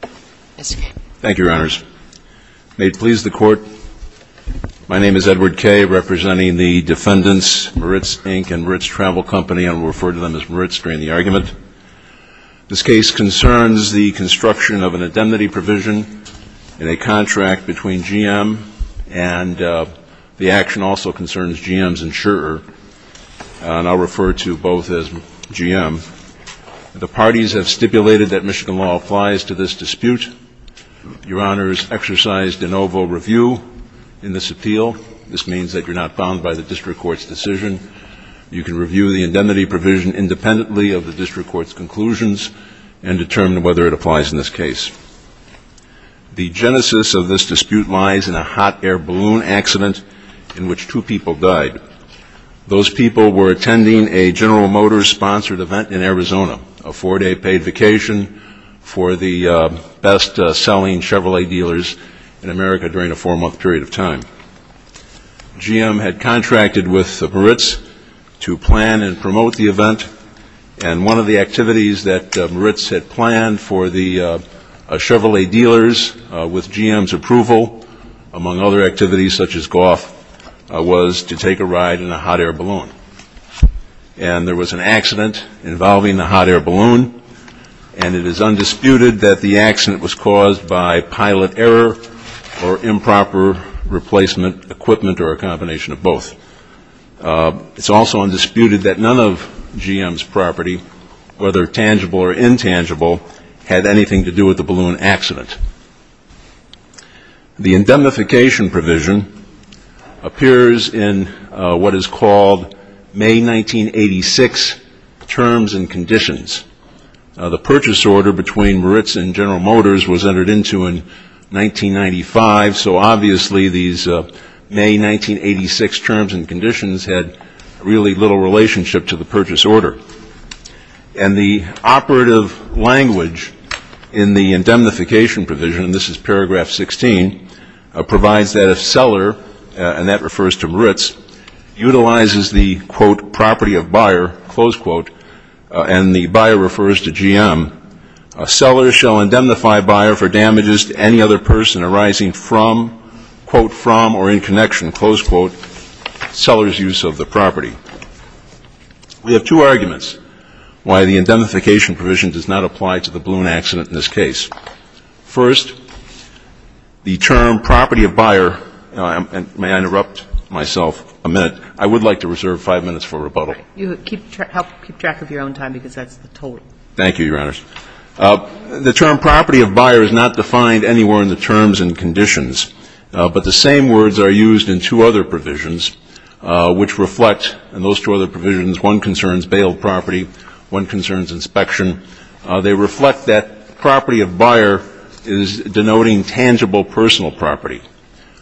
Thank you, Your Honors. May it please the Court, my name is Edward Kaye, representing the defendants, Maritz Inc. and Maritz Travel Company. I will refer to them as Maritz during the argument. This case concerns the construction of an indemnity provision in a contract between GM and the action also concerns GM's insurer, and I'll refer to both as GM. The parties have stipulated that Michigan law applies to this dispute. Your Honors exercised de novo review in this appeal. This means that you're not bound by the district court's decision. You can review the indemnity provision independently of the district court's conclusions and determine whether it applies in this case. The genesis of this dispute lies in a hot air balloon accident in which two people died. Those people were attending a General Motors-sponsored event in Arizona, a four-day paid vacation for the best-selling Chevrolet dealers in America during a four-month period of time. GM had contracted with Maritz to plan and promote the event, and one of the activities that Maritz had planned for the Chevrolet dealers with GM's approval, among other activities such as golf, was to take a ride in a hot air balloon. And there was an accident involving the hot air balloon, and it is undisputed that the accident was caused by pilot error or improper replacement equipment or a combination of both. It's also undisputed that none of GM's property, whether tangible or intangible, had anything to do with the balloon accident. The indemnification provision appears in what is called May 1986 Terms and Conditions. The purchase order between Maritz and General Motors was entered into in 1995, so obviously these May 1986 Terms and Conditions had really little relationship to the purchase order. And the operative language in the indemnification provision, and this is paragraph 16, provides that if seller, and that refers to Maritz, utilizes the, quote, property of buyer, close quote, and the buyer refers to GM, a seller shall indemnify buyer for damages to any other person arising from, quote, from or in connection, close quote, seller's use of the property. We have two arguments why the indemnification provision does not apply to the balloon accident in this case. First, the term property of buyer, and may I interrupt myself a minute? I would like to reserve five minutes for rebuttal. You keep track of your own time because that's the total. Thank you, Your Honors. The term property of buyer is not defined anywhere in the terms and conditions, but the same words are used in two other provisions which reflect and those two other provisions, one concerns bail property, one concerns inspection. They reflect that property of buyer is denoting tangible personal property.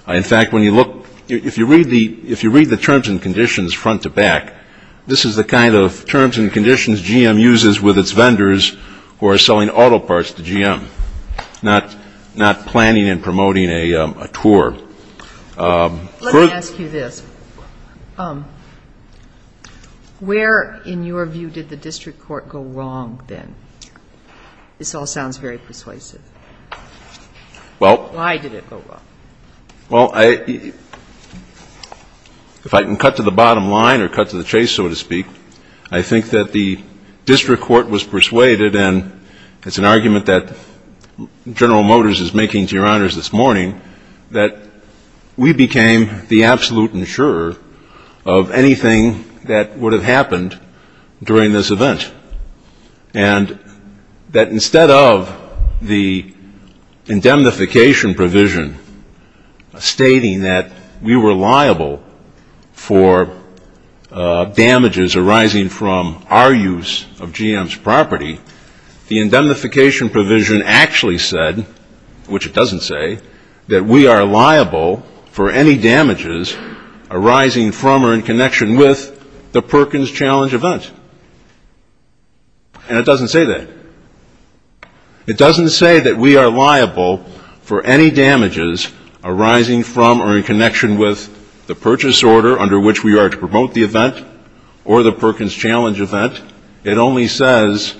In fact, when you look, if you read the terms and conditions front to back, this is the kind of terms and conditions GM uses with its vendors who are selling auto parts to GM, not planning and promoting a tour. Let me ask you this. Where, in your view, did the district court go wrong then? This all sounds very persuasive. Why did it go wrong? Well, if I can cut to the bottom line or cut to the chase, so to speak, I think that the district court was persuaded, and it's an argument that General Motors is making to Your Honors this morning, that we became the absolute insurer of anything that would have happened during this event. And that instead of the indemnification provision stating that we were liable for damages arising from our use of GM's property, the indemnification provision actually said, which it doesn't say, that we are liable for any damages arising from or in connection with the Perkins Challenge event. And it doesn't say that. It doesn't say that we are liable for any damages arising from or in connection with the purchase order under which we are to promote the event or the Perkins Challenge event. It only says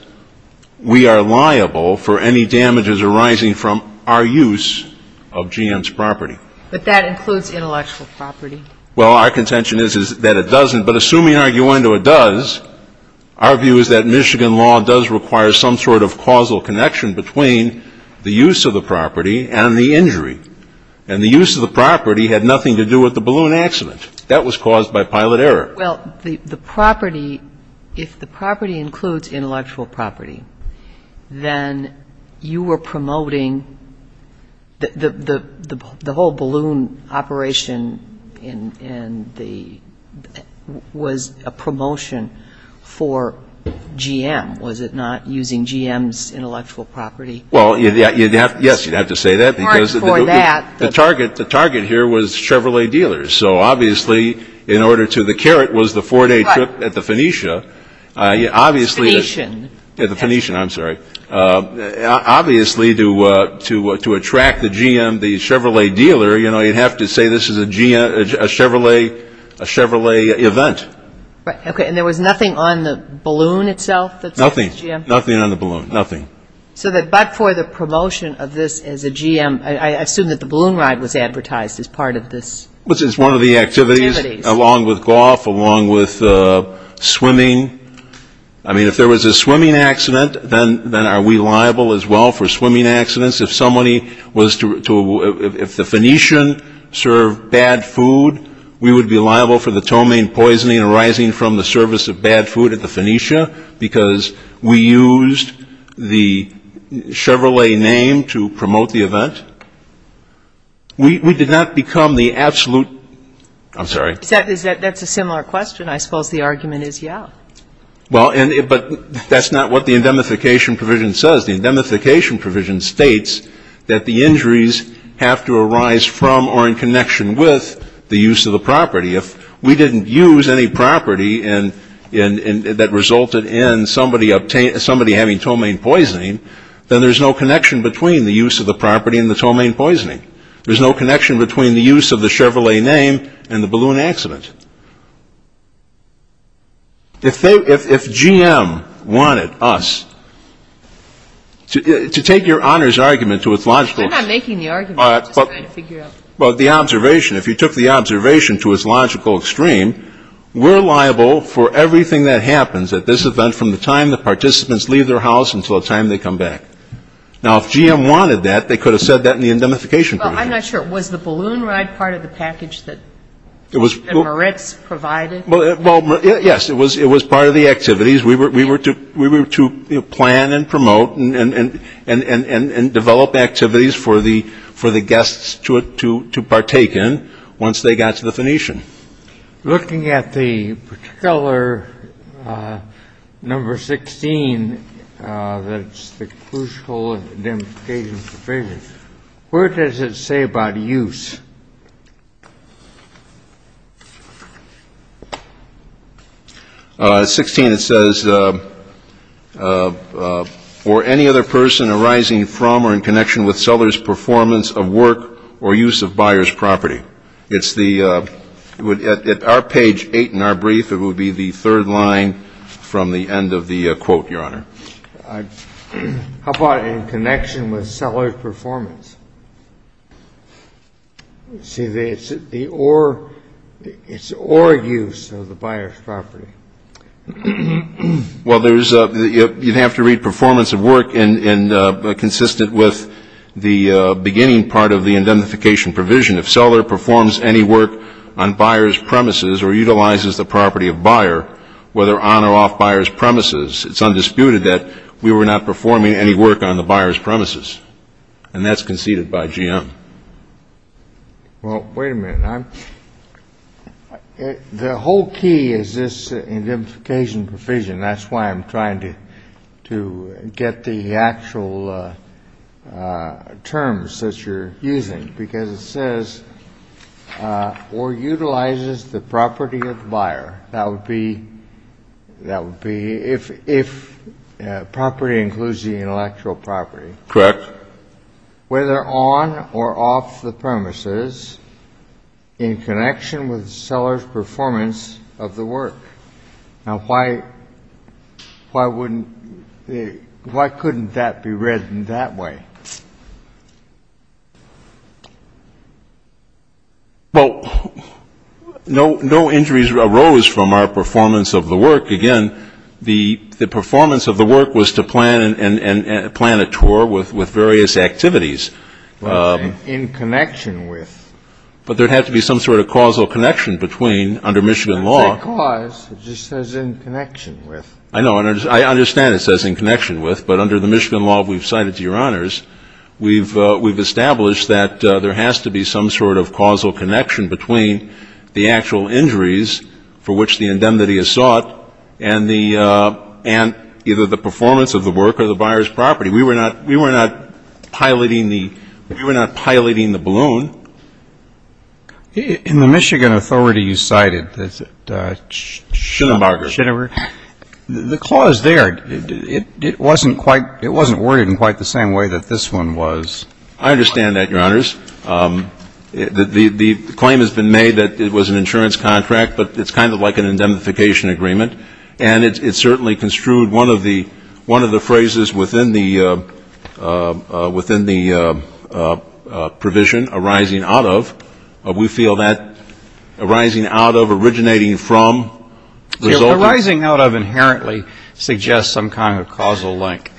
we are liable for any damages arising from our use of GM's property. But that includes intellectual property. Well, our contention is that it doesn't. But assuming, arguendo, it does, our view is that Michigan law does require some sort of causal connection between the use of the property and the injury. And the use of the property had nothing to do with the balloon accident. That was caused by pilot error. Well, the property, if the property includes intellectual property, then you were promoting the whole balloon operation in the, was a promotion for GM, was it not, using GM's intellectual property? Well, yes, you'd have to say that because the target here was Chevrolet dealers. So obviously, in order to, the carrot was the four-day trip at the Phoenicia, obviously the Phoenician, I'm sorry. Obviously, to attract the GM, the Chevrolet dealer, you'd have to say this is a Chevrolet event. Right. Okay. And there was nothing on the balloon itself that says GM? Nothing. Nothing on the balloon. Nothing. So that but for the promotion of this as a GM, I assume that the balloon ride was advertised as part of this? Which is one of the activities along with golf, along with swimming. I mean, if there was a swimming accident, then are we liable as well for swimming accidents? If somebody was to, if the Phoenician served bad food, we would be liable for the tomain poisoning arising from the service of bad food at the Phoenicia because we used the Chevrolet name to promote the event. We did not become the absolute, I'm sorry. Is that, that's a similar question. I suppose the argument is, yeah. Well, but that's not what the indemnification provision says. The indemnification provision states that the injuries have to arise from or in connection with the use of the property. If we didn't use any property and that resulted in somebody obtaining, somebody having tomain poisoning, then there's no connection between the use of the property and the tomain poisoning. There's no connection between the use of the Chevrolet name and the balloon accident. If they, if GM wanted us to take your honor's argument to its logical. We're not making the argument. We're just trying to figure out. But the observation, if you took the observation to its logical extreme, we're liable for everything that happens at this event from the time the participants leave their house until the time they come back. Now, if GM wanted that, they could have said that in the indemnification provision. Well, I'm not sure. Was the balloon ride part of the package that Moretz provided? Well, yes. It was part of the activities. We were to plan and promote and develop activities for the guests to partake in once they got to the Phoenician. Looking at the particular number 16, that's the crucial indemnification provision, where does it say about use? 16, it says, or any other person arising from or in connection with seller's performance of work or use of buyer's property. It's the, at our page 8 in our brief, it would be the third line from the end of the quote, your honor. How about in connection with seller's performance? See, it's the or, it's or use of the buyer's property. Well, there's, you'd have to read performance of work and consistent with the beginning part of the indemnification provision. If seller performs any work on buyer's premises or utilizes the property of buyer, whether on or off buyer's premises, it's undisputed that we were not performing any work on the buyer's premises. And that's conceded by GM. Well, wait a minute. I'm, the whole key is this indemnification provision. That's why I'm trying to, to get the actual terms that you're using, because it says, or utilizes the property of the buyer. That would be, that would be if, if property includes the intellectual property. Correct. Whether on or off the premises in connection with seller's performance of the work. Now, why, why wouldn't, why couldn't that be read in that way? Well, no, no injuries arose from our performance of the work. Again, the, the performance of the work was to plan and, and, and plan a tour with, with various activities. In connection with. But there'd have to be some sort of causal connection between, under Michigan law. It doesn't say cause, it just says in connection with. I know, I understand it says in connection with, but under the Michigan law we've cited to your honors, we've, we've established that there has to be some sort of causal connection between the actual injuries for which the indemnity is sought and the, and either the performance of the work or the buyer's property. We were not, we were not piloting the, we were not piloting the balloon. In the Michigan authority you cited, that Shinneberger, the clause there, it, it, it wasn't quite, it wasn't worded in quite the same way that this one was. I understand that your honors. The, the, the claim has been made that it was an insurance contract, but it's kind of like an indemnification agreement. And it certainly construed one of the, one of the phrases within the, within the provision arising from the insurance contract. Arising out of, we feel that arising out of, originating from, resulting. Arising out of inherently suggests some kind of causal link.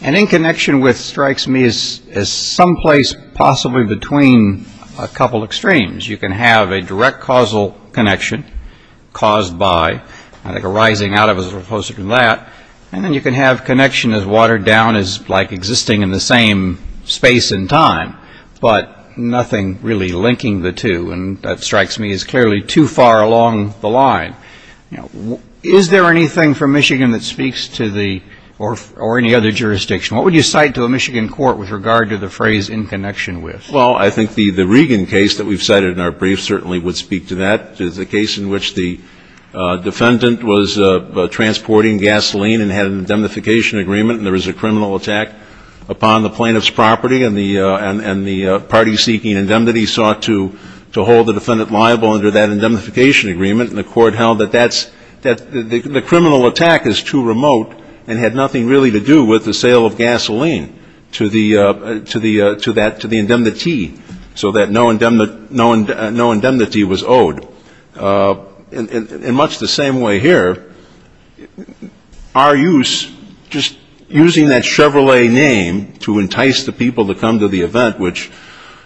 And in connection with strikes me as, as someplace possibly between a couple extremes. You can have a direct causal connection caused by, I think, arising out of as opposed to that. And then you can have connection as watered down as like existing in the same space and time, but nothing really linking the two. And that strikes me as clearly too far along the line. Now, is there anything from Michigan that speaks to the, or, or any other jurisdiction? What would you cite to a Michigan court with regard to the phrase in connection with? Well, I think the, the Regan case that we've cited in our brief certainly would speak to that. There's a case in which the defendant was transporting gasoline and had an indemnification agreement. And there was a criminal attack upon the plaintiff's property. And the, and the party seeking indemnity sought to, to hold the defendant liable under that indemnification agreement. And the court held that that's, that the criminal attack is too remote and had nothing really to do with the sale of gasoline to the, to the, to that, to the indemnity. So that no indemnity, no indemnity was owed. In, in, in much the same way here, our use, just using that Chevrolet name to entice the people to come to the event, which,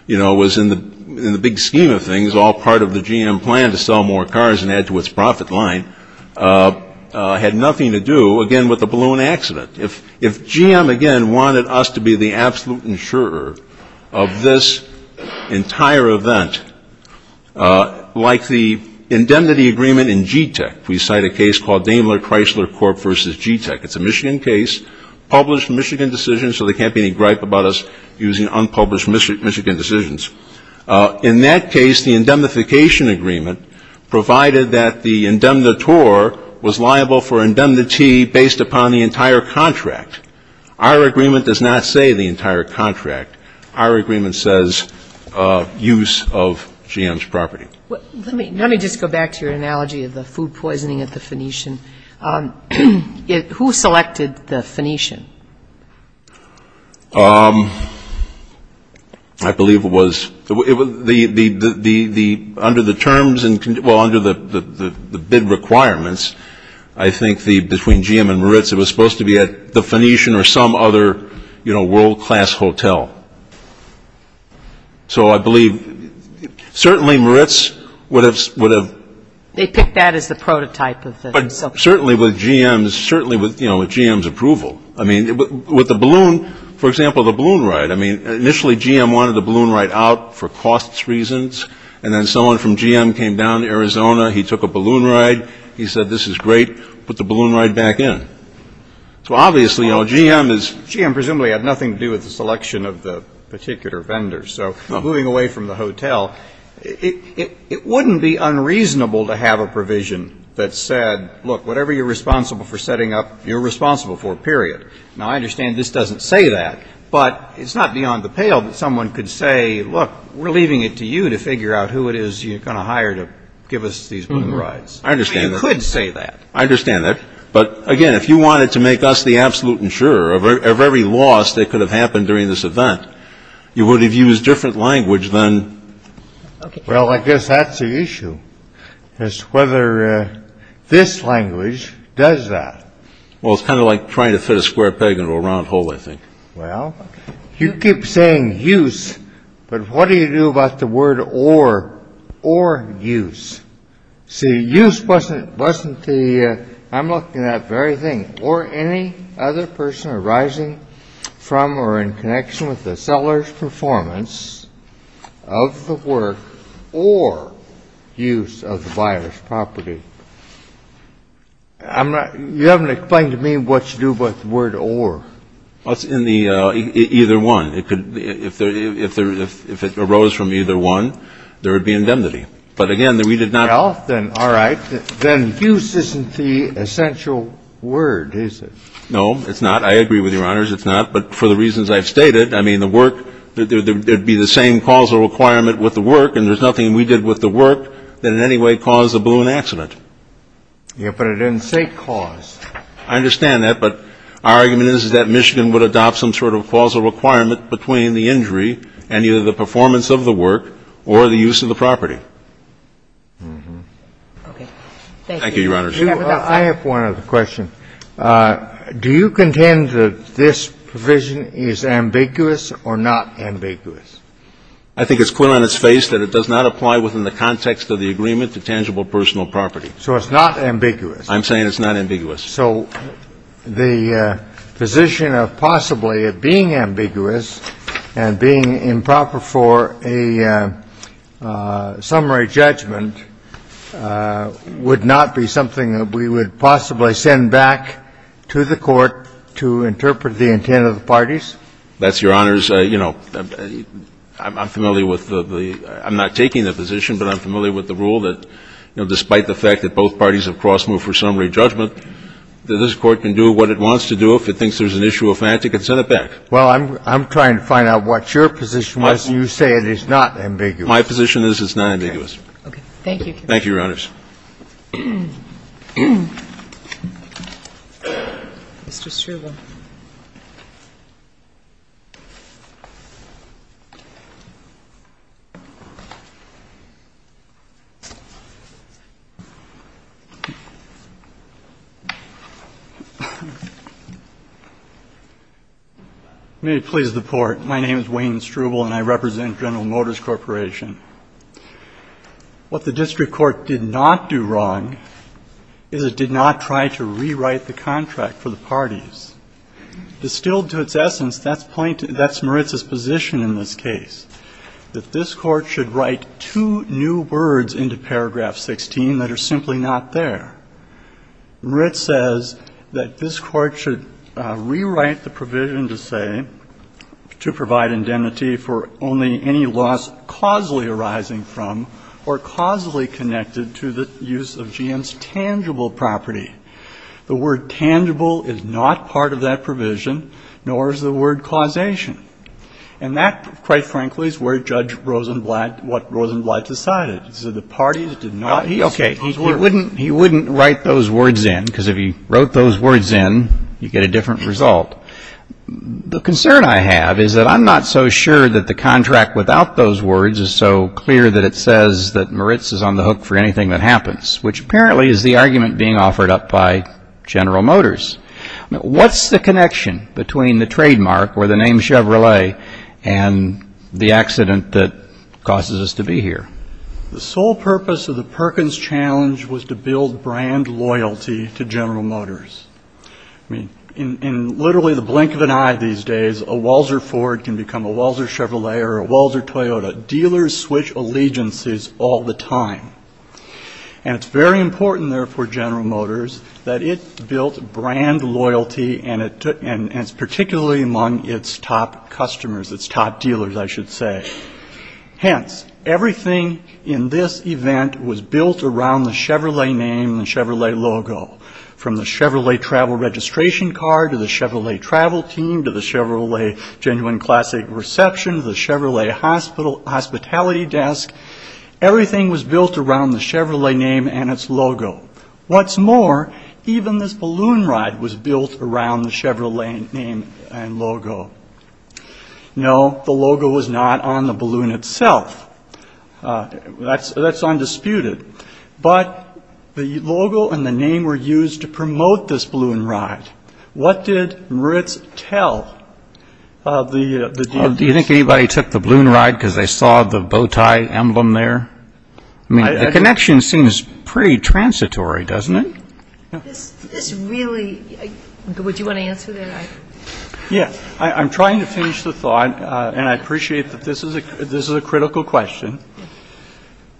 you know, was in the, in the big scheme of things, all part of the GM plan to sell more cars and add to its profit line, had nothing to do, again, with the balloon accident. If, if GM, again, wanted us to be the absolute insurer of this entire event, like the indemnity agreement in GTEC, we cite a case called Daimler Chrysler Corp versus GTEC. It's a Michigan case, published Michigan decision, so there can't be any gripe about us using unpublished Michigan decisions. In that case, the indemnification agreement provided that the indemnitore was liable for indemnity based upon the entire contract. Our agreement does not say the entire contract. Our agreement says use of GM's property. Well, let me, let me just go back to your analogy of the food poisoning at the Phoenician. It, who selected the Phoenician? I believe it was, it was the, the, the, the, the, under the terms and, well, under the, the, the bid requirements, I think the, between GM and Moritz, it was supposed to be at the Phoenician or some other, you know, world class hotel. So I believe, certainly Moritz would have, would have. They picked that as the prototype of the. But certainly with GM's, certainly with, you know, with GM's approval. I mean, with the balloon, for example, the balloon ride. I mean, initially GM wanted the balloon ride out for costs reasons. And then someone from GM came down to Arizona. He took a balloon ride. He said, this is great. Put the balloon ride back in. So obviously, you know, GM is. GM presumably had nothing to do with the selection of the particular vendors. So moving away from the hotel, it, it, it wouldn't be unreasonable to have a provision that said, look, whatever you're responsible for setting up, you're responsible for. Period. Now, I understand this doesn't say that, but it's not beyond the pale that someone could say, look, we're leaving it to you to figure out who it is you're going to hire to give us these rides. I understand. You could say that. I understand that. But again, if you wanted to make us the absolute insurer of every loss that could have happened during this event, you would have used different language then. Well, I guess that's the issue is whether this language does that. Well, it's kind of like trying to fit a square peg into a round hole, I think. Well, you keep saying use, but what do you do about the word or, or use? See, use wasn't, wasn't the, I'm looking at everything or any other person arising from or in connection with the seller's performance of the work or use of the buyer's property. I'm not, you haven't explained to me what you do about the word or. Well, it's in the either one. It could, if there, if there, if it arose from either one, there would be indemnity. But again, we did not. Well, then, all right. Then use isn't the essential word, is it? No, it's not. I agree with Your Honors. It's not. But for the reasons I've stated, I mean, the work, there'd be the same causal requirement with the work, and there's nothing we did with the work that in any way caused the balloon accident. Yeah, but it didn't say cause. I understand that, but our argument is, is that Michigan would adopt some sort of causal requirement between the injury and either the performance of the work or the use of the property. Okay. Thank you, Your Honors. I have one other question. Do you contend that this provision is ambiguous or not ambiguous? I think it's clear on its face that it does not apply within the context of the agreement to tangible personal property. So it's not ambiguous. I'm saying it's not ambiguous. So the position of possibly it being ambiguous and being improper for a summary judgment would not be something that we would possibly send back to the court to interpret the intent of the parties? That's Your Honors. You know, I'm familiar with the – I'm not taking the position, but I'm familiar with the rule that, you know, despite the fact that both parties have cross-moved for summary judgment, that this Court can do what it wants to do. If it thinks there's an issue of fact, it can send it back. Well, I'm trying to find out what your position was. You say it is not ambiguous. My position is it's not ambiguous. Okay. Thank you. Thank you, Your Honors. Mr. Struble. May it please the Court. My name is Wayne Struble, and I represent General Motors Corporation. What the district court did not do wrong is it did not try to rewrite the contract for the parties. Distilled to its essence, that's point – that's Moritz's position in this case, that this Court should write two new words into paragraph 16 that are simply not there. Moritz says that this Court should rewrite the provision to say – to provide indemnity for only any loss causally arising from or causally connected to the use of GM's tangible property. The word tangible is not part of that provision, nor is the word causation. And that, quite frankly, is where Judge Rosenblatt – what Rosenblatt decided, is that the parties did not seek those words. Okay. He wouldn't – he wouldn't write those words in, because if he wrote those words in, you'd get a different result. The concern I have is that I'm not so sure that the contract without those words is so clear that it says that Moritz is on the hook for anything that happens, which apparently is the argument being offered up by General Motors. What's the connection between the trademark, or the name Chevrolet, and the accident that causes us to be here? The sole purpose of the Perkins Challenge was to build brand loyalty to General Motors. I mean, in literally the blink of an eye these days, a Walzer Ford can become a Walzer Chevrolet or a Walzer Toyota. Dealers switch allegiances all the time. And it's very important, therefore, General Motors, that it built brand loyalty, and it took – and it's particularly among its top customers, its top dealers, I should say. Hence, everything in this event was built around the Chevrolet name and the Chevrolet logo. From the Chevrolet travel registration card, to the Chevrolet travel team, to the Chevrolet Genuine Classic Reception, to the Chevrolet Hospitality Desk, everything was built around the Chevrolet name and its logo. What's more, even this balloon ride was built around the Chevrolet name and logo. No, the logo was not on the balloon itself. That's undisputed. But the logo and the name were used to promote this balloon ride. What did Moritz tell the dealers? Do you think anybody took the balloon ride because they saw the bowtie emblem there? I mean, the connection seems pretty transitory, doesn't it? This really – would you want to answer that? Yes, I'm trying to finish the thought, and I appreciate that this is a critical question.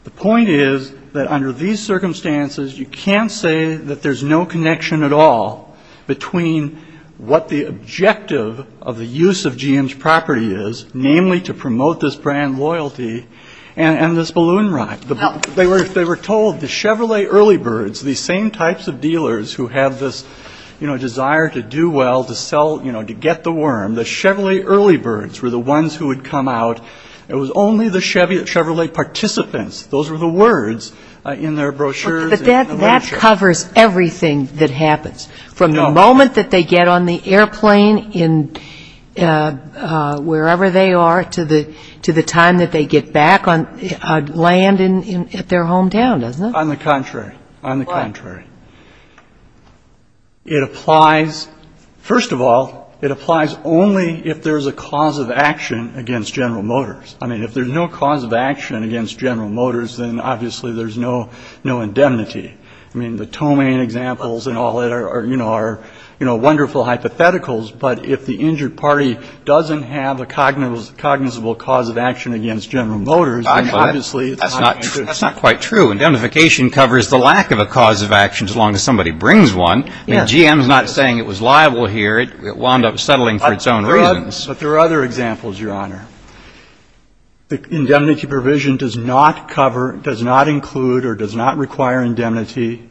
The point is that under these circumstances, you can't say that there's no connection at all between what the objective of the use of GM's property is, namely to promote this brand loyalty, and this balloon ride. They were told the Chevrolet early birds, these same types of dealers who have this, you know, desire to do well, to sell, you know, to get the worm, the Chevrolet early birds were the ones who would come out. It was only the Chevrolet participants. Those were the words in their brochures. But that covers everything that happens, from the moment that they get on the airplane, wherever they are, to the time that they get back on land at their hometown, doesn't it? On the contrary. On the contrary. It applies – first of all, it applies only if there's a cause of action against General Motors. I mean, if there's no cause of action against General Motors, then obviously there's no indemnity. I mean, the Tomain examples and all that are, you know, wonderful hypotheticals. But if the injured party doesn't have a cognizable cause of action against General Motors, then obviously it's not an injury. That's not quite true. Indemnification covers the lack of a cause of action as long as somebody brings one. Yes. I mean, GM's not saying it was liable here. It wound up settling for its own reasons. But there are other examples, Your Honor. The indemnity provision does not cover, does not include, or does not require indemnity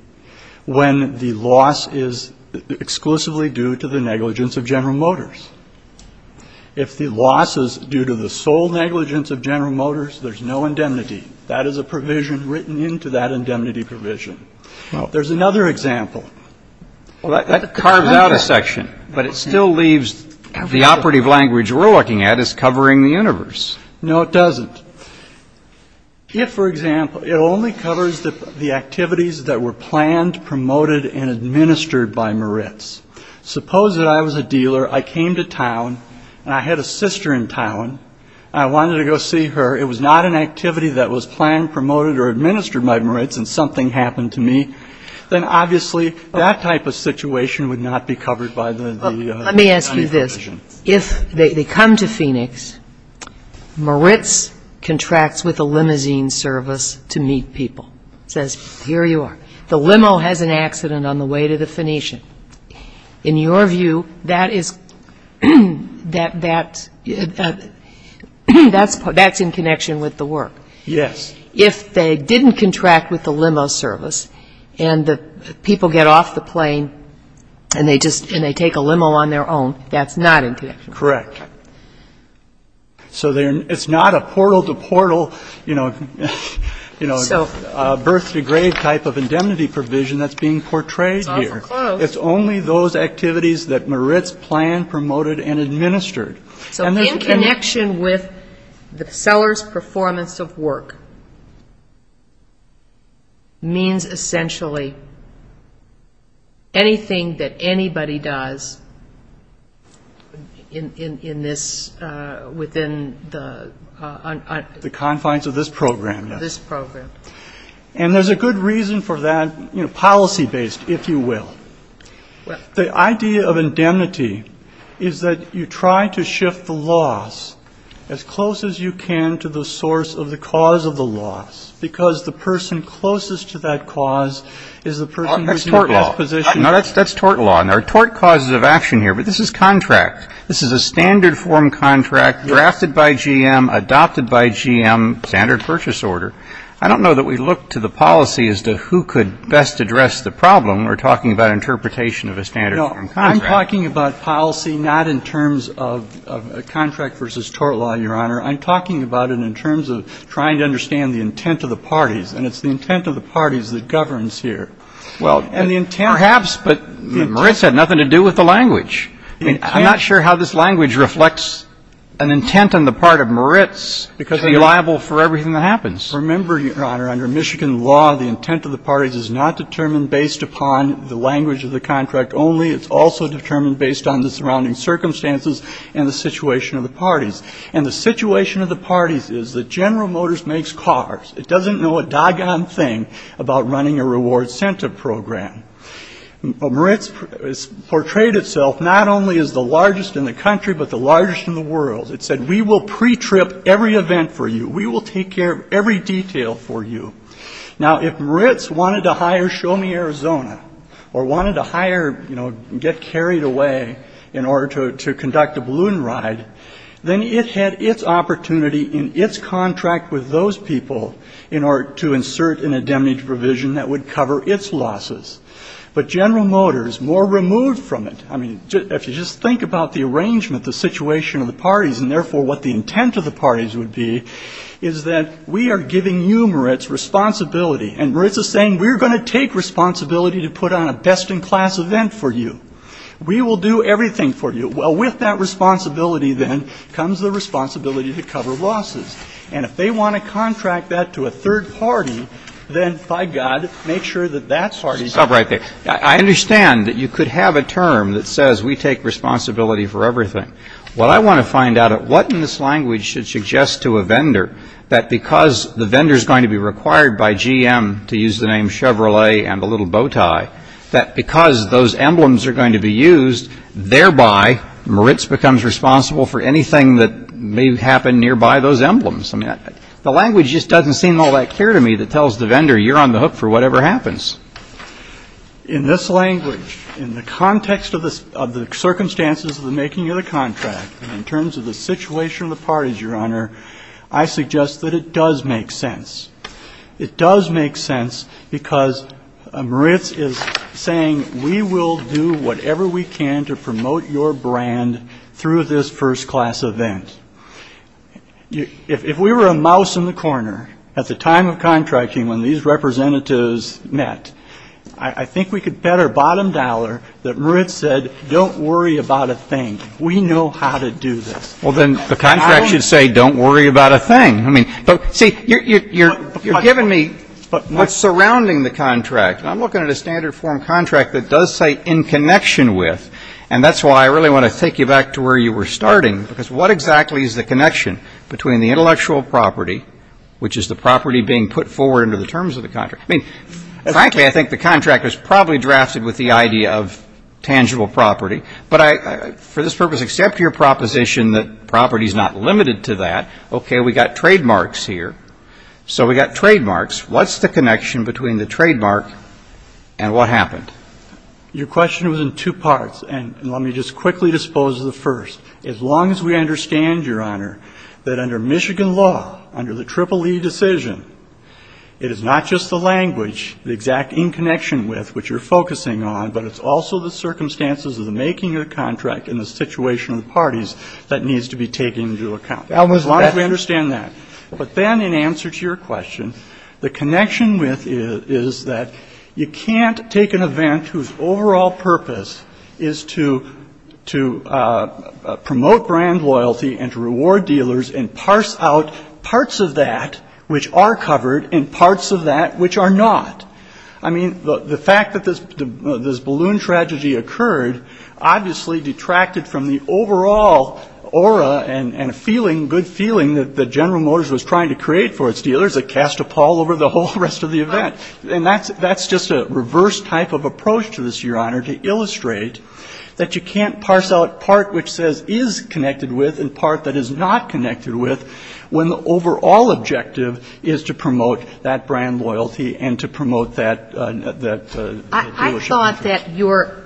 when the loss is exclusively due to the negligence of General Motors. If the loss is due to the sole negligence of General Motors, there's no indemnity. That is a provision written into that indemnity provision. There's another example. Well, that carves out a section, but it still leaves the operative language we're looking at is covering the universe. No, it doesn't. If, for example, it only covers the activities that were planned, promoted and administered by Moritz. Suppose that I was a dealer. I came to town and I had a sister in town. I wanted to go see her. It was not an activity that was planned, promoted or administered by Moritz. And something happened to me. Then obviously that type of situation would not be covered by the indemnity provision. Let me ask you this. If they come to Phoenix, Moritz contracts with a limousine service to meet people. Says, here you are. The limo has an accident on the way to the Phoenician. In your view, that is, that's in connection with the work. Yes. If they didn't contract with the limo service and the people get off the plane and they take a limo on their own, that's not in connection. Correct. So it's not a portal-to-portal, you know, birth-to-grave type of indemnity provision that's being portrayed here. It's awful close. It's only those activities that Moritz planned, promoted and administered. So in connection with the seller's performance of work means essentially anything that anybody does in this, within the... The confines of this program, yes. This program. And there's a good reason for that, you know, policy-based, if you will. The idea of indemnity is that you try to shift the loss as close as you can to the source of the cause of the loss, because the person closest to that cause is the person... That's tort law. No, that's tort law, and there are tort causes of action here, but this is contract. This is a standard form contract drafted by GM, adopted by GM, standard purchase order. I don't know that we look to the policy as to who could best address the problem. We're talking about interpretation of a standard form contract. No, I'm talking about policy, not in terms of contract versus tort law, Your Honor. I'm talking about it in terms of trying to understand the intent of the parties, and it's the intent of the parties that governs here. Well, perhaps, but Moritz had nothing to do with the language. I'm not sure how this language reflects an intent on the part of Moritz to be liable for everything that happens. Remember, Your Honor, under Michigan law, the intent of the parties is not determined based upon the language of the contract only. It's also determined based on the surrounding circumstances and the situation of the parties. And the situation of the parties is that General Motors makes cars. It doesn't know a doggone thing about running a reward-cented program. Moritz portrayed itself not only as the largest in the country, but the largest in the world. It said, we will pre-trip every event for you. We will take care of every detail for you. Now, if Moritz wanted to hire Show Me Arizona or wanted to hire, you know, get carried away in order to conduct a balloon ride, then it had its opportunity in its contract with those people in order to insert an indemnity provision that would cover its losses. But General Motors, more removed from it, I mean, if you just think about the arrangement, the situation of the parties, and therefore what the intent of the parties would be, is that we are giving you, Moritz, responsibility. And Moritz is saying, we're going to take responsibility to put on a best-in-class event for you. We will do everything for you. Well, with that responsibility, then, comes the responsibility to cover losses. And if they want to contract that to a third party, then, by God, make sure that that party doesn't. I understand that you could have a term that says, we take responsibility for everything. Well, I want to find out what in this language should suggest to a vendor that because the vendor is going to be required by GM to use the name Chevrolet and a little bow tie, that because those emblems are going to be used, thereby Moritz becomes responsible for anything that may happen nearby those emblems. The language just doesn't seem all that clear to me that tells the vendor, you're on the hook for whatever happens. In this language, in the context of the circumstances of the making of the contract, in terms of the situation of the parties, Your Honor, I suggest that it does make sense. It does make sense because Moritz is saying, we will do whatever we can to promote your brand through this first-class event. If we were a mouse in the corner at the time of contracting when these representatives met, I think we could bet our bottom dollar that Moritz said, don't worry about a thing. We know how to do this. Well, then the contract should say, don't worry about a thing. I mean, but, see, you're giving me what's surrounding the contract. I'm looking at a standard form contract that does say, in connection with. And that's why I really want to take you back to where you were starting, because what exactly is the connection between the intellectual property, which is the property being put forward under the terms of the contract? I mean, frankly, I think the contractor is probably drafted with the idea of tangible property. But for this purpose, except your proposition that property is not limited to that, okay, we've got trademarks here. So we've got trademarks. What's the connection between the trademark and what happened? Your question was in two parts, and let me just quickly dispose of the first. As long as we understand, Your Honor, that under Michigan law, under the Triple E decision, it is not just the language, the exact in connection with, which you're focusing on, but it's also the circumstances of the making of the contract and the situation of the parties that needs to be taken into account. As long as we understand that. But then in answer to your question, the connection is that you can't take an event whose overall purpose is to promote brand loyalty and to reward dealers and parse out parts of that which are covered and parts of that which are not. I mean, the fact that this balloon tragedy occurred obviously detracted from the overall aura and feeling, the good feeling that General Motors was trying to create for its dealers that cast a pall over the whole rest of the event. And that's just a reverse type of approach to this, Your Honor, to illustrate that you can't parse out part which says is connected with and part that is not connected with when the overall objective is to promote that brand loyalty and to promote that dealership.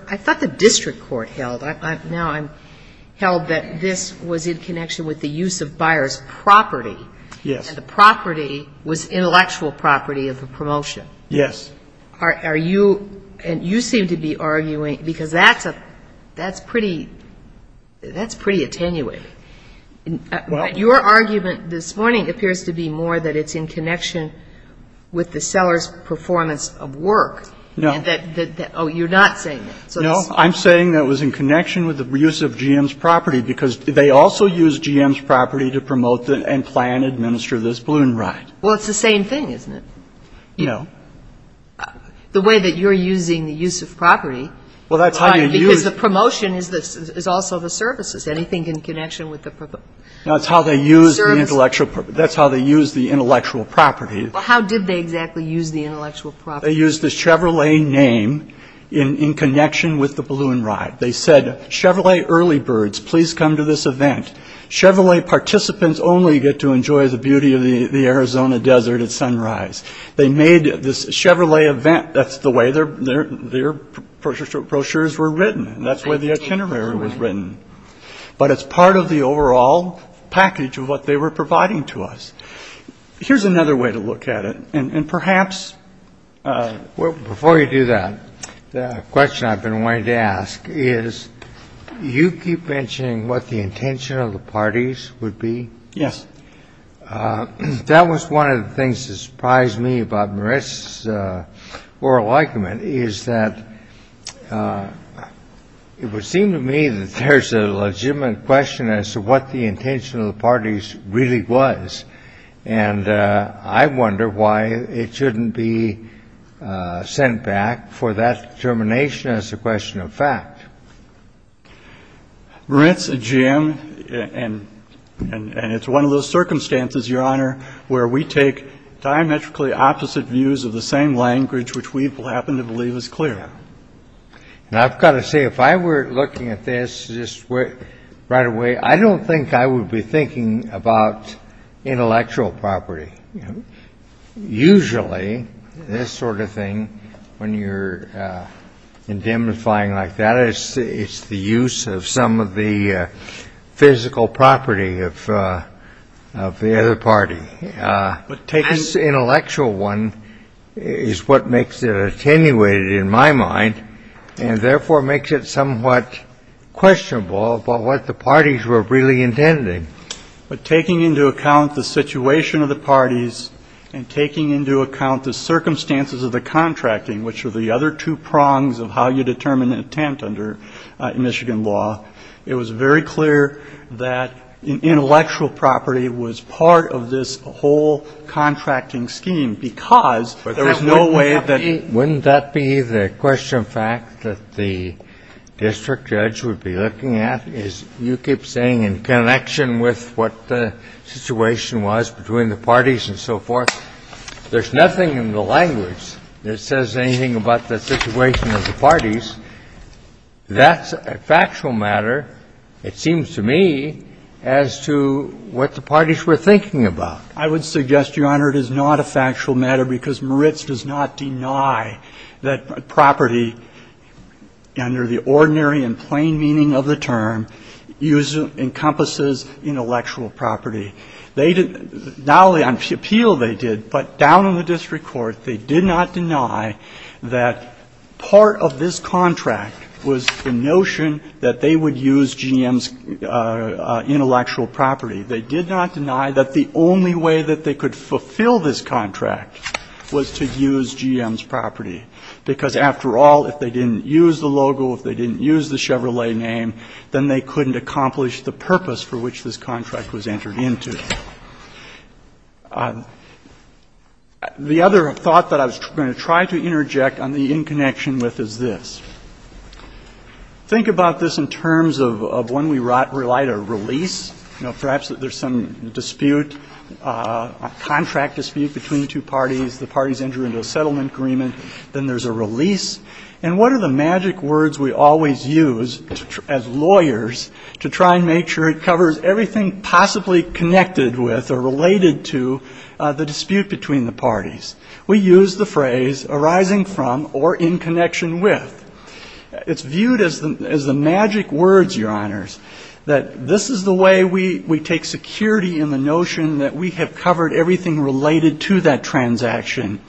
I thought the district court held, now I'm held that this was in connection with the use of buyer's property. Yes. And the property was intellectual property of the promotion. Yes. Are you, and you seem to be arguing, because that's a, that's pretty, that's pretty attenuate. Your argument this morning appears to be more that it's in connection with the seller's performance of work. No. Oh, you're not saying that. No. I'm saying that it was in connection with the use of GM's property because they also used GM's property to promote and plan and administer this balloon ride. Well, it's the same thing, isn't it? No. The way that you're using the use of property. Well, that's how you use. Because the promotion is also the services. Anything in connection with the services. No, that's how they used the intellectual property. That's how they used the intellectual property. Well, how did they exactly use the intellectual property? They used the Chevrolet name in connection with the balloon ride. They said, Chevrolet early birds, please come to this event. Chevrolet participants only get to enjoy the beauty of the Arizona desert at sunrise. They made this Chevrolet event. That's the way their brochures were written. That's the way the itinerary was written. But it's part of the overall package of what they were providing to us. Here's another way to look at it. And perhaps. Well, before you do that, the question I've been wanting to ask is, you keep mentioning what the intention of the parties would be. Yes. That was one of the things that surprised me about Moritz's oral argument, is that it would seem to me that there's a legitimate question as to what the intention of the parties really was. And I wonder why it shouldn't be sent back for that determination as a question of fact. Moritz, Jim, and it's one of those circumstances, Your Honor, where we take diametrically opposite views of the same language, which we happen to believe is clear. And I've got to say, if I were looking at this right away, I don't think I would be thinking about intellectual property. Usually this sort of thing, when you're indemnifying like that, it's the use of some of the physical property of the other party. This intellectual one is what makes it attenuated in my mind and therefore makes it somewhat questionable about what the parties were really intending. But taking into account the situation of the parties and taking into account the circumstances of the contracting, which are the other two prongs of how you determine intent under Michigan law, it was very clear that intellectual property was part of this whole contracting scheme because there was no way that the parties were really intending. Kennedy, wouldn't that be the question of fact that the district judge would be looking at, is you keep saying in connection with what the situation was between the parties and so forth, there's nothing in the language that says anything about the situation of the parties. That's a factual matter, it seems to me, as to what the parties were thinking about. I would suggest, Your Honor, it is not a factual matter because Moritz does not deny that property under the ordinary and plain meaning of the term encompasses intellectual property. They didn't – not only on appeal they did, but down in the district court, they did not deny that part of this contract was the notion that they would use GM's intellectual property. They did not deny that the only way that they could fulfill this contract was to use GM's property, because after all, if they didn't use the logo, if they didn't use the Chevrolet name, then they couldn't accomplish the purpose for which this contract was entered into. The other thought that I was going to try to interject on the in connection with is this. Think about this in terms of when we write a release. You know, perhaps there's some dispute, a contract dispute between the two parties, the parties enter into a settlement agreement, then there's a release. And what are the magic words we always use as lawyers to try and make sure it covers everything possibly connected with or related to the dispute between the parties? We use the phrase arising from or in connection with. It's viewed as the magic words, Your Honors, that this is the way we take security in the notion that we have covered everything related to that transaction.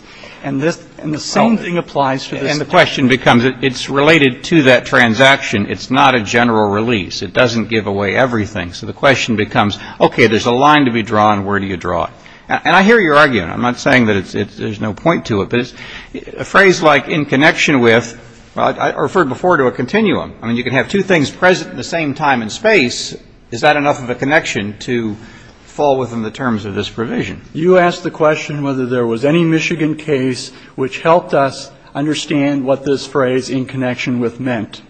And the same thing applies to this case. And the question becomes it's related to that transaction. It's not a general release. It doesn't give away everything. So the question becomes, okay, there's a line to be drawn. Where do you draw it? And I hear your argument. I'm not saying that there's no point to it. But a phrase like in connection with, I referred before to a continuum. I mean, you can have two things present at the same time in space. Is that enough of a connection to fall within the terms of this provision? You asked the question whether there was any Michigan case which helped us understand what this phrase in connection with meant.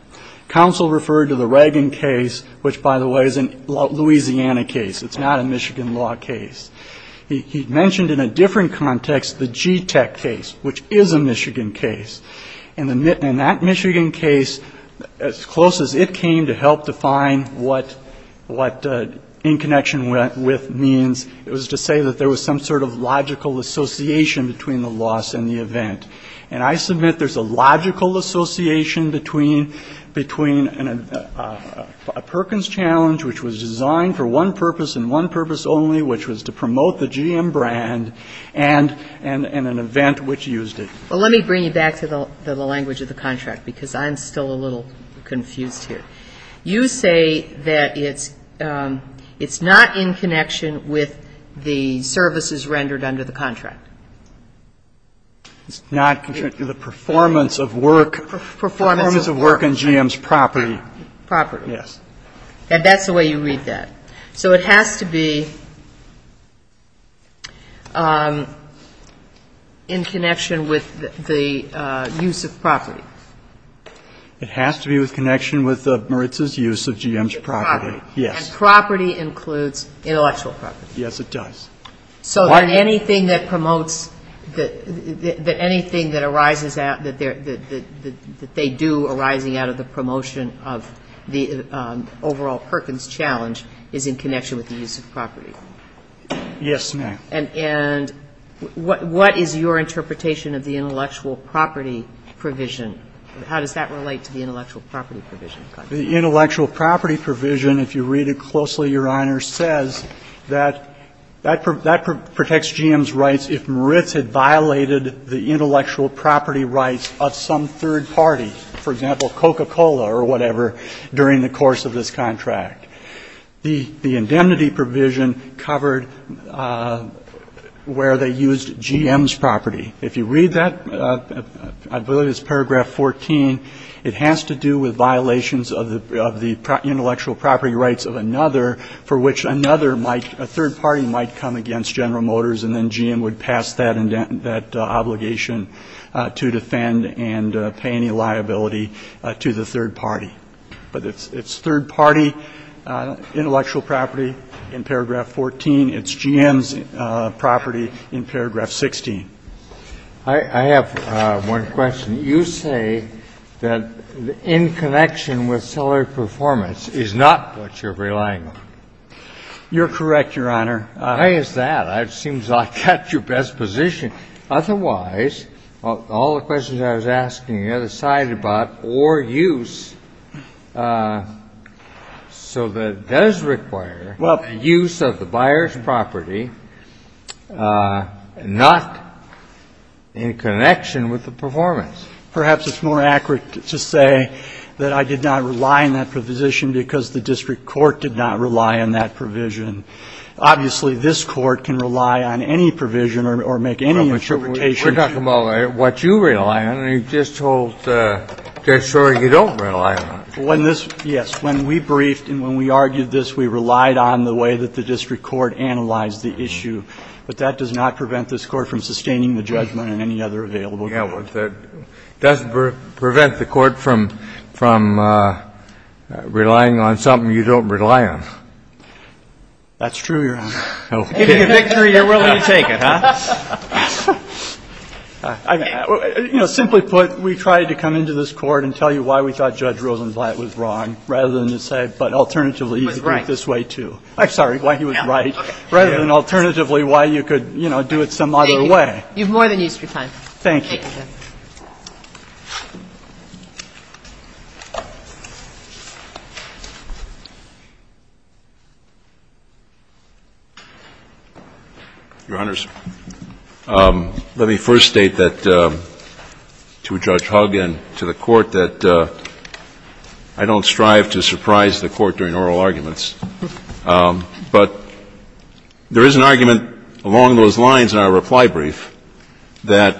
Counsel referred to the Reagan case, which, by the way, is a Louisiana case. It's not a Michigan law case. He mentioned in a different context the GTEC case, which is a Michigan case. And that Michigan case, as close as it came to help define what in connection with means, it was to say that there was some sort of logical association between the loss and the event. And I submit there's a logical association between a Perkins challenge, which was designed for one purpose and one purpose only, which was to promote the GM brand and an event which used it. Well, let me bring you back to the language of the contract, because I'm still a little confused here. You say that it's not in connection with the services rendered under the contract. It's not the performance of work. Performance of work. Performance of work on GM's property. Property. Yes. And that's the way you read that. So it has to be in connection with the use of property. It has to be in connection with Maritza's use of GM's property. Yes. And property includes intellectual property. Yes, it does. So anything that promotes, that anything that arises out, that they do arising out of the promotion of the overall Perkins challenge is in connection with the use of property. Yes, ma'am. And what is your interpretation of the intellectual property provision? How does that relate to the intellectual property provision? The intellectual property provision, if you read it closely, Your Honor, says that that protects GM's rights if Maritza had violated the intellectual property rights of some third party, for example, Coca-Cola or whatever, during the course of this contract. The indemnity provision covered where they used GM's property. If you read that, I believe it's paragraph 14, it has to do with violations of the intellectual property rights of another for which another might, a third party might come against General Motors, and then GM would pass that obligation to defend and pay any liability to the third party. But it's third party intellectual property in paragraph 14. It's GM's property in paragraph 16. I have one question. You say that in connection with seller performance is not what you're relying on. You're correct, Your Honor. Why is that? It seems like that's your best position. Otherwise, all the questions I was asking on the other side about or use, so that does require the use of the buyer's property not in connection with the performance. Perhaps it's more accurate to say that I did not rely on that provision because the district court did not rely on that provision. Obviously, this court can rely on any provision or make any interpretation. We're talking about what you rely on. And you just told Judge Schroeder you don't rely on it. Yes. When we briefed and when we argued this, we relied on the way that the district court analyzed the issue. But that does not prevent this court from sustaining the judgment in any other available court. It does prevent the court from relying on something you don't rely on. That's true, Your Honor. Giving a victory, you're willing to take it, huh? You know, simply put, we tried to come into this court and tell you why we thought Judge Rosenblatt was wrong rather than to say, but alternatively, he was right this way, too. I'm sorry, why he was right rather than alternatively why you could, you know, do it some other way. Thank you. Thank you. Thank you, Justice. Your Honors, let me first state that to Judge Hugg and to the Court that I don't strive to surprise the Court during oral arguments. But there is an argument along those lines in our reply brief that, you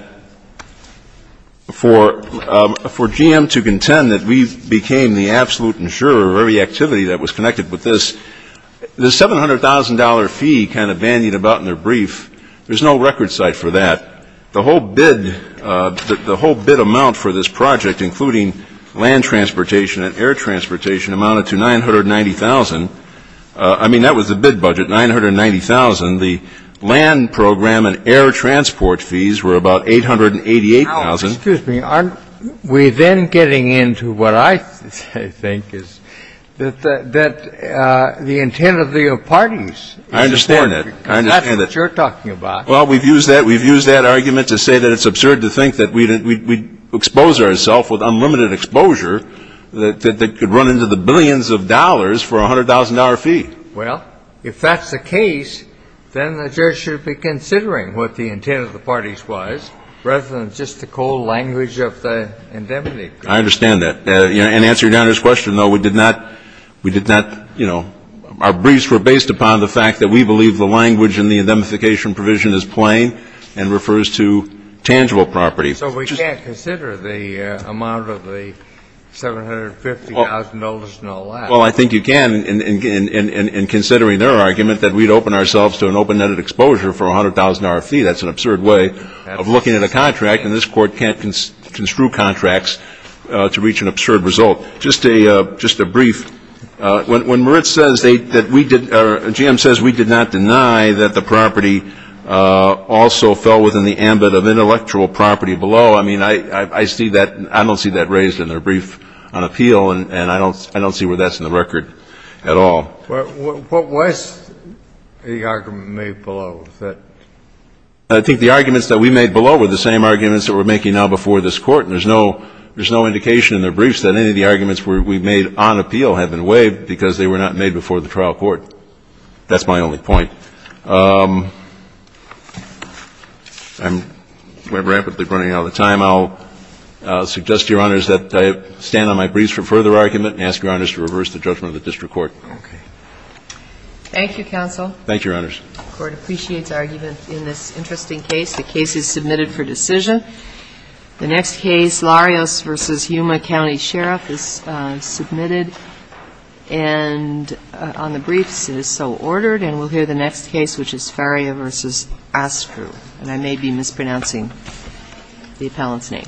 know, I think for GM to contend that we became the absolute insurer of every activity that was connected with this, the $700,000 fee kind of bandied about in their brief, there's no record site for that. The whole bid amount for this project, including land transportation and air transportation, amounted to $990,000. I mean, that was the bid budget, $990,000. The land program and air transport fees were about $888,000. Now, excuse me. Aren't we then getting into what I think is that the intent of the parties is important? I understand that. I understand that. Because that's what you're talking about. Well, we've used that argument to say that it's absurd to think that we'd expose ourself with unlimited exposure that could run into the billions of dollars for a $100,000 fee. Well, if that's the case, then the judge should be considering what the intent of the parties was rather than just the cold language of the indemnity. I understand that. And to answer Your Honor's question, though, we did not, you know, our briefs were based upon the fact that we believe the language in the indemnification provision is plain and refers to tangible property. So we can't consider the amount of the $750,000 and all that. Well, I think you can in considering their argument that we'd open ourselves to an open-ended exposure for a $100,000 fee. That's an absurd way of looking at a contract. And this Court can't construe contracts to reach an absurd result. Just a brief, when Merritt says that we did or GM says we did not deny that the property also fell within the ambit of intellectual property below, I mean, I don't see that raised in their brief on appeal. And I don't see where that's in the record at all. But what was the argument made below? I think the arguments that we made below were the same arguments that we're making now before this Court. And there's no indication in their briefs that any of the arguments we made on appeal had been waived because they were not made before the trial court. That's my only point. I'm rapidly running out of time. I'll suggest to Your Honors that I stand on my briefs for further argument and ask Your Honors to reverse the judgment of the district court. Okay. Thank you, counsel. Thank you, Your Honors. The Court appreciates argument in this interesting case. The case is submitted for decision. The next case, Larios v. Yuma County Sheriff, is submitted and on the briefs it is so ordered. And we'll hear the next case, which is Faria v. Astru. And I may be mispronouncing the appellant's name. Thank you.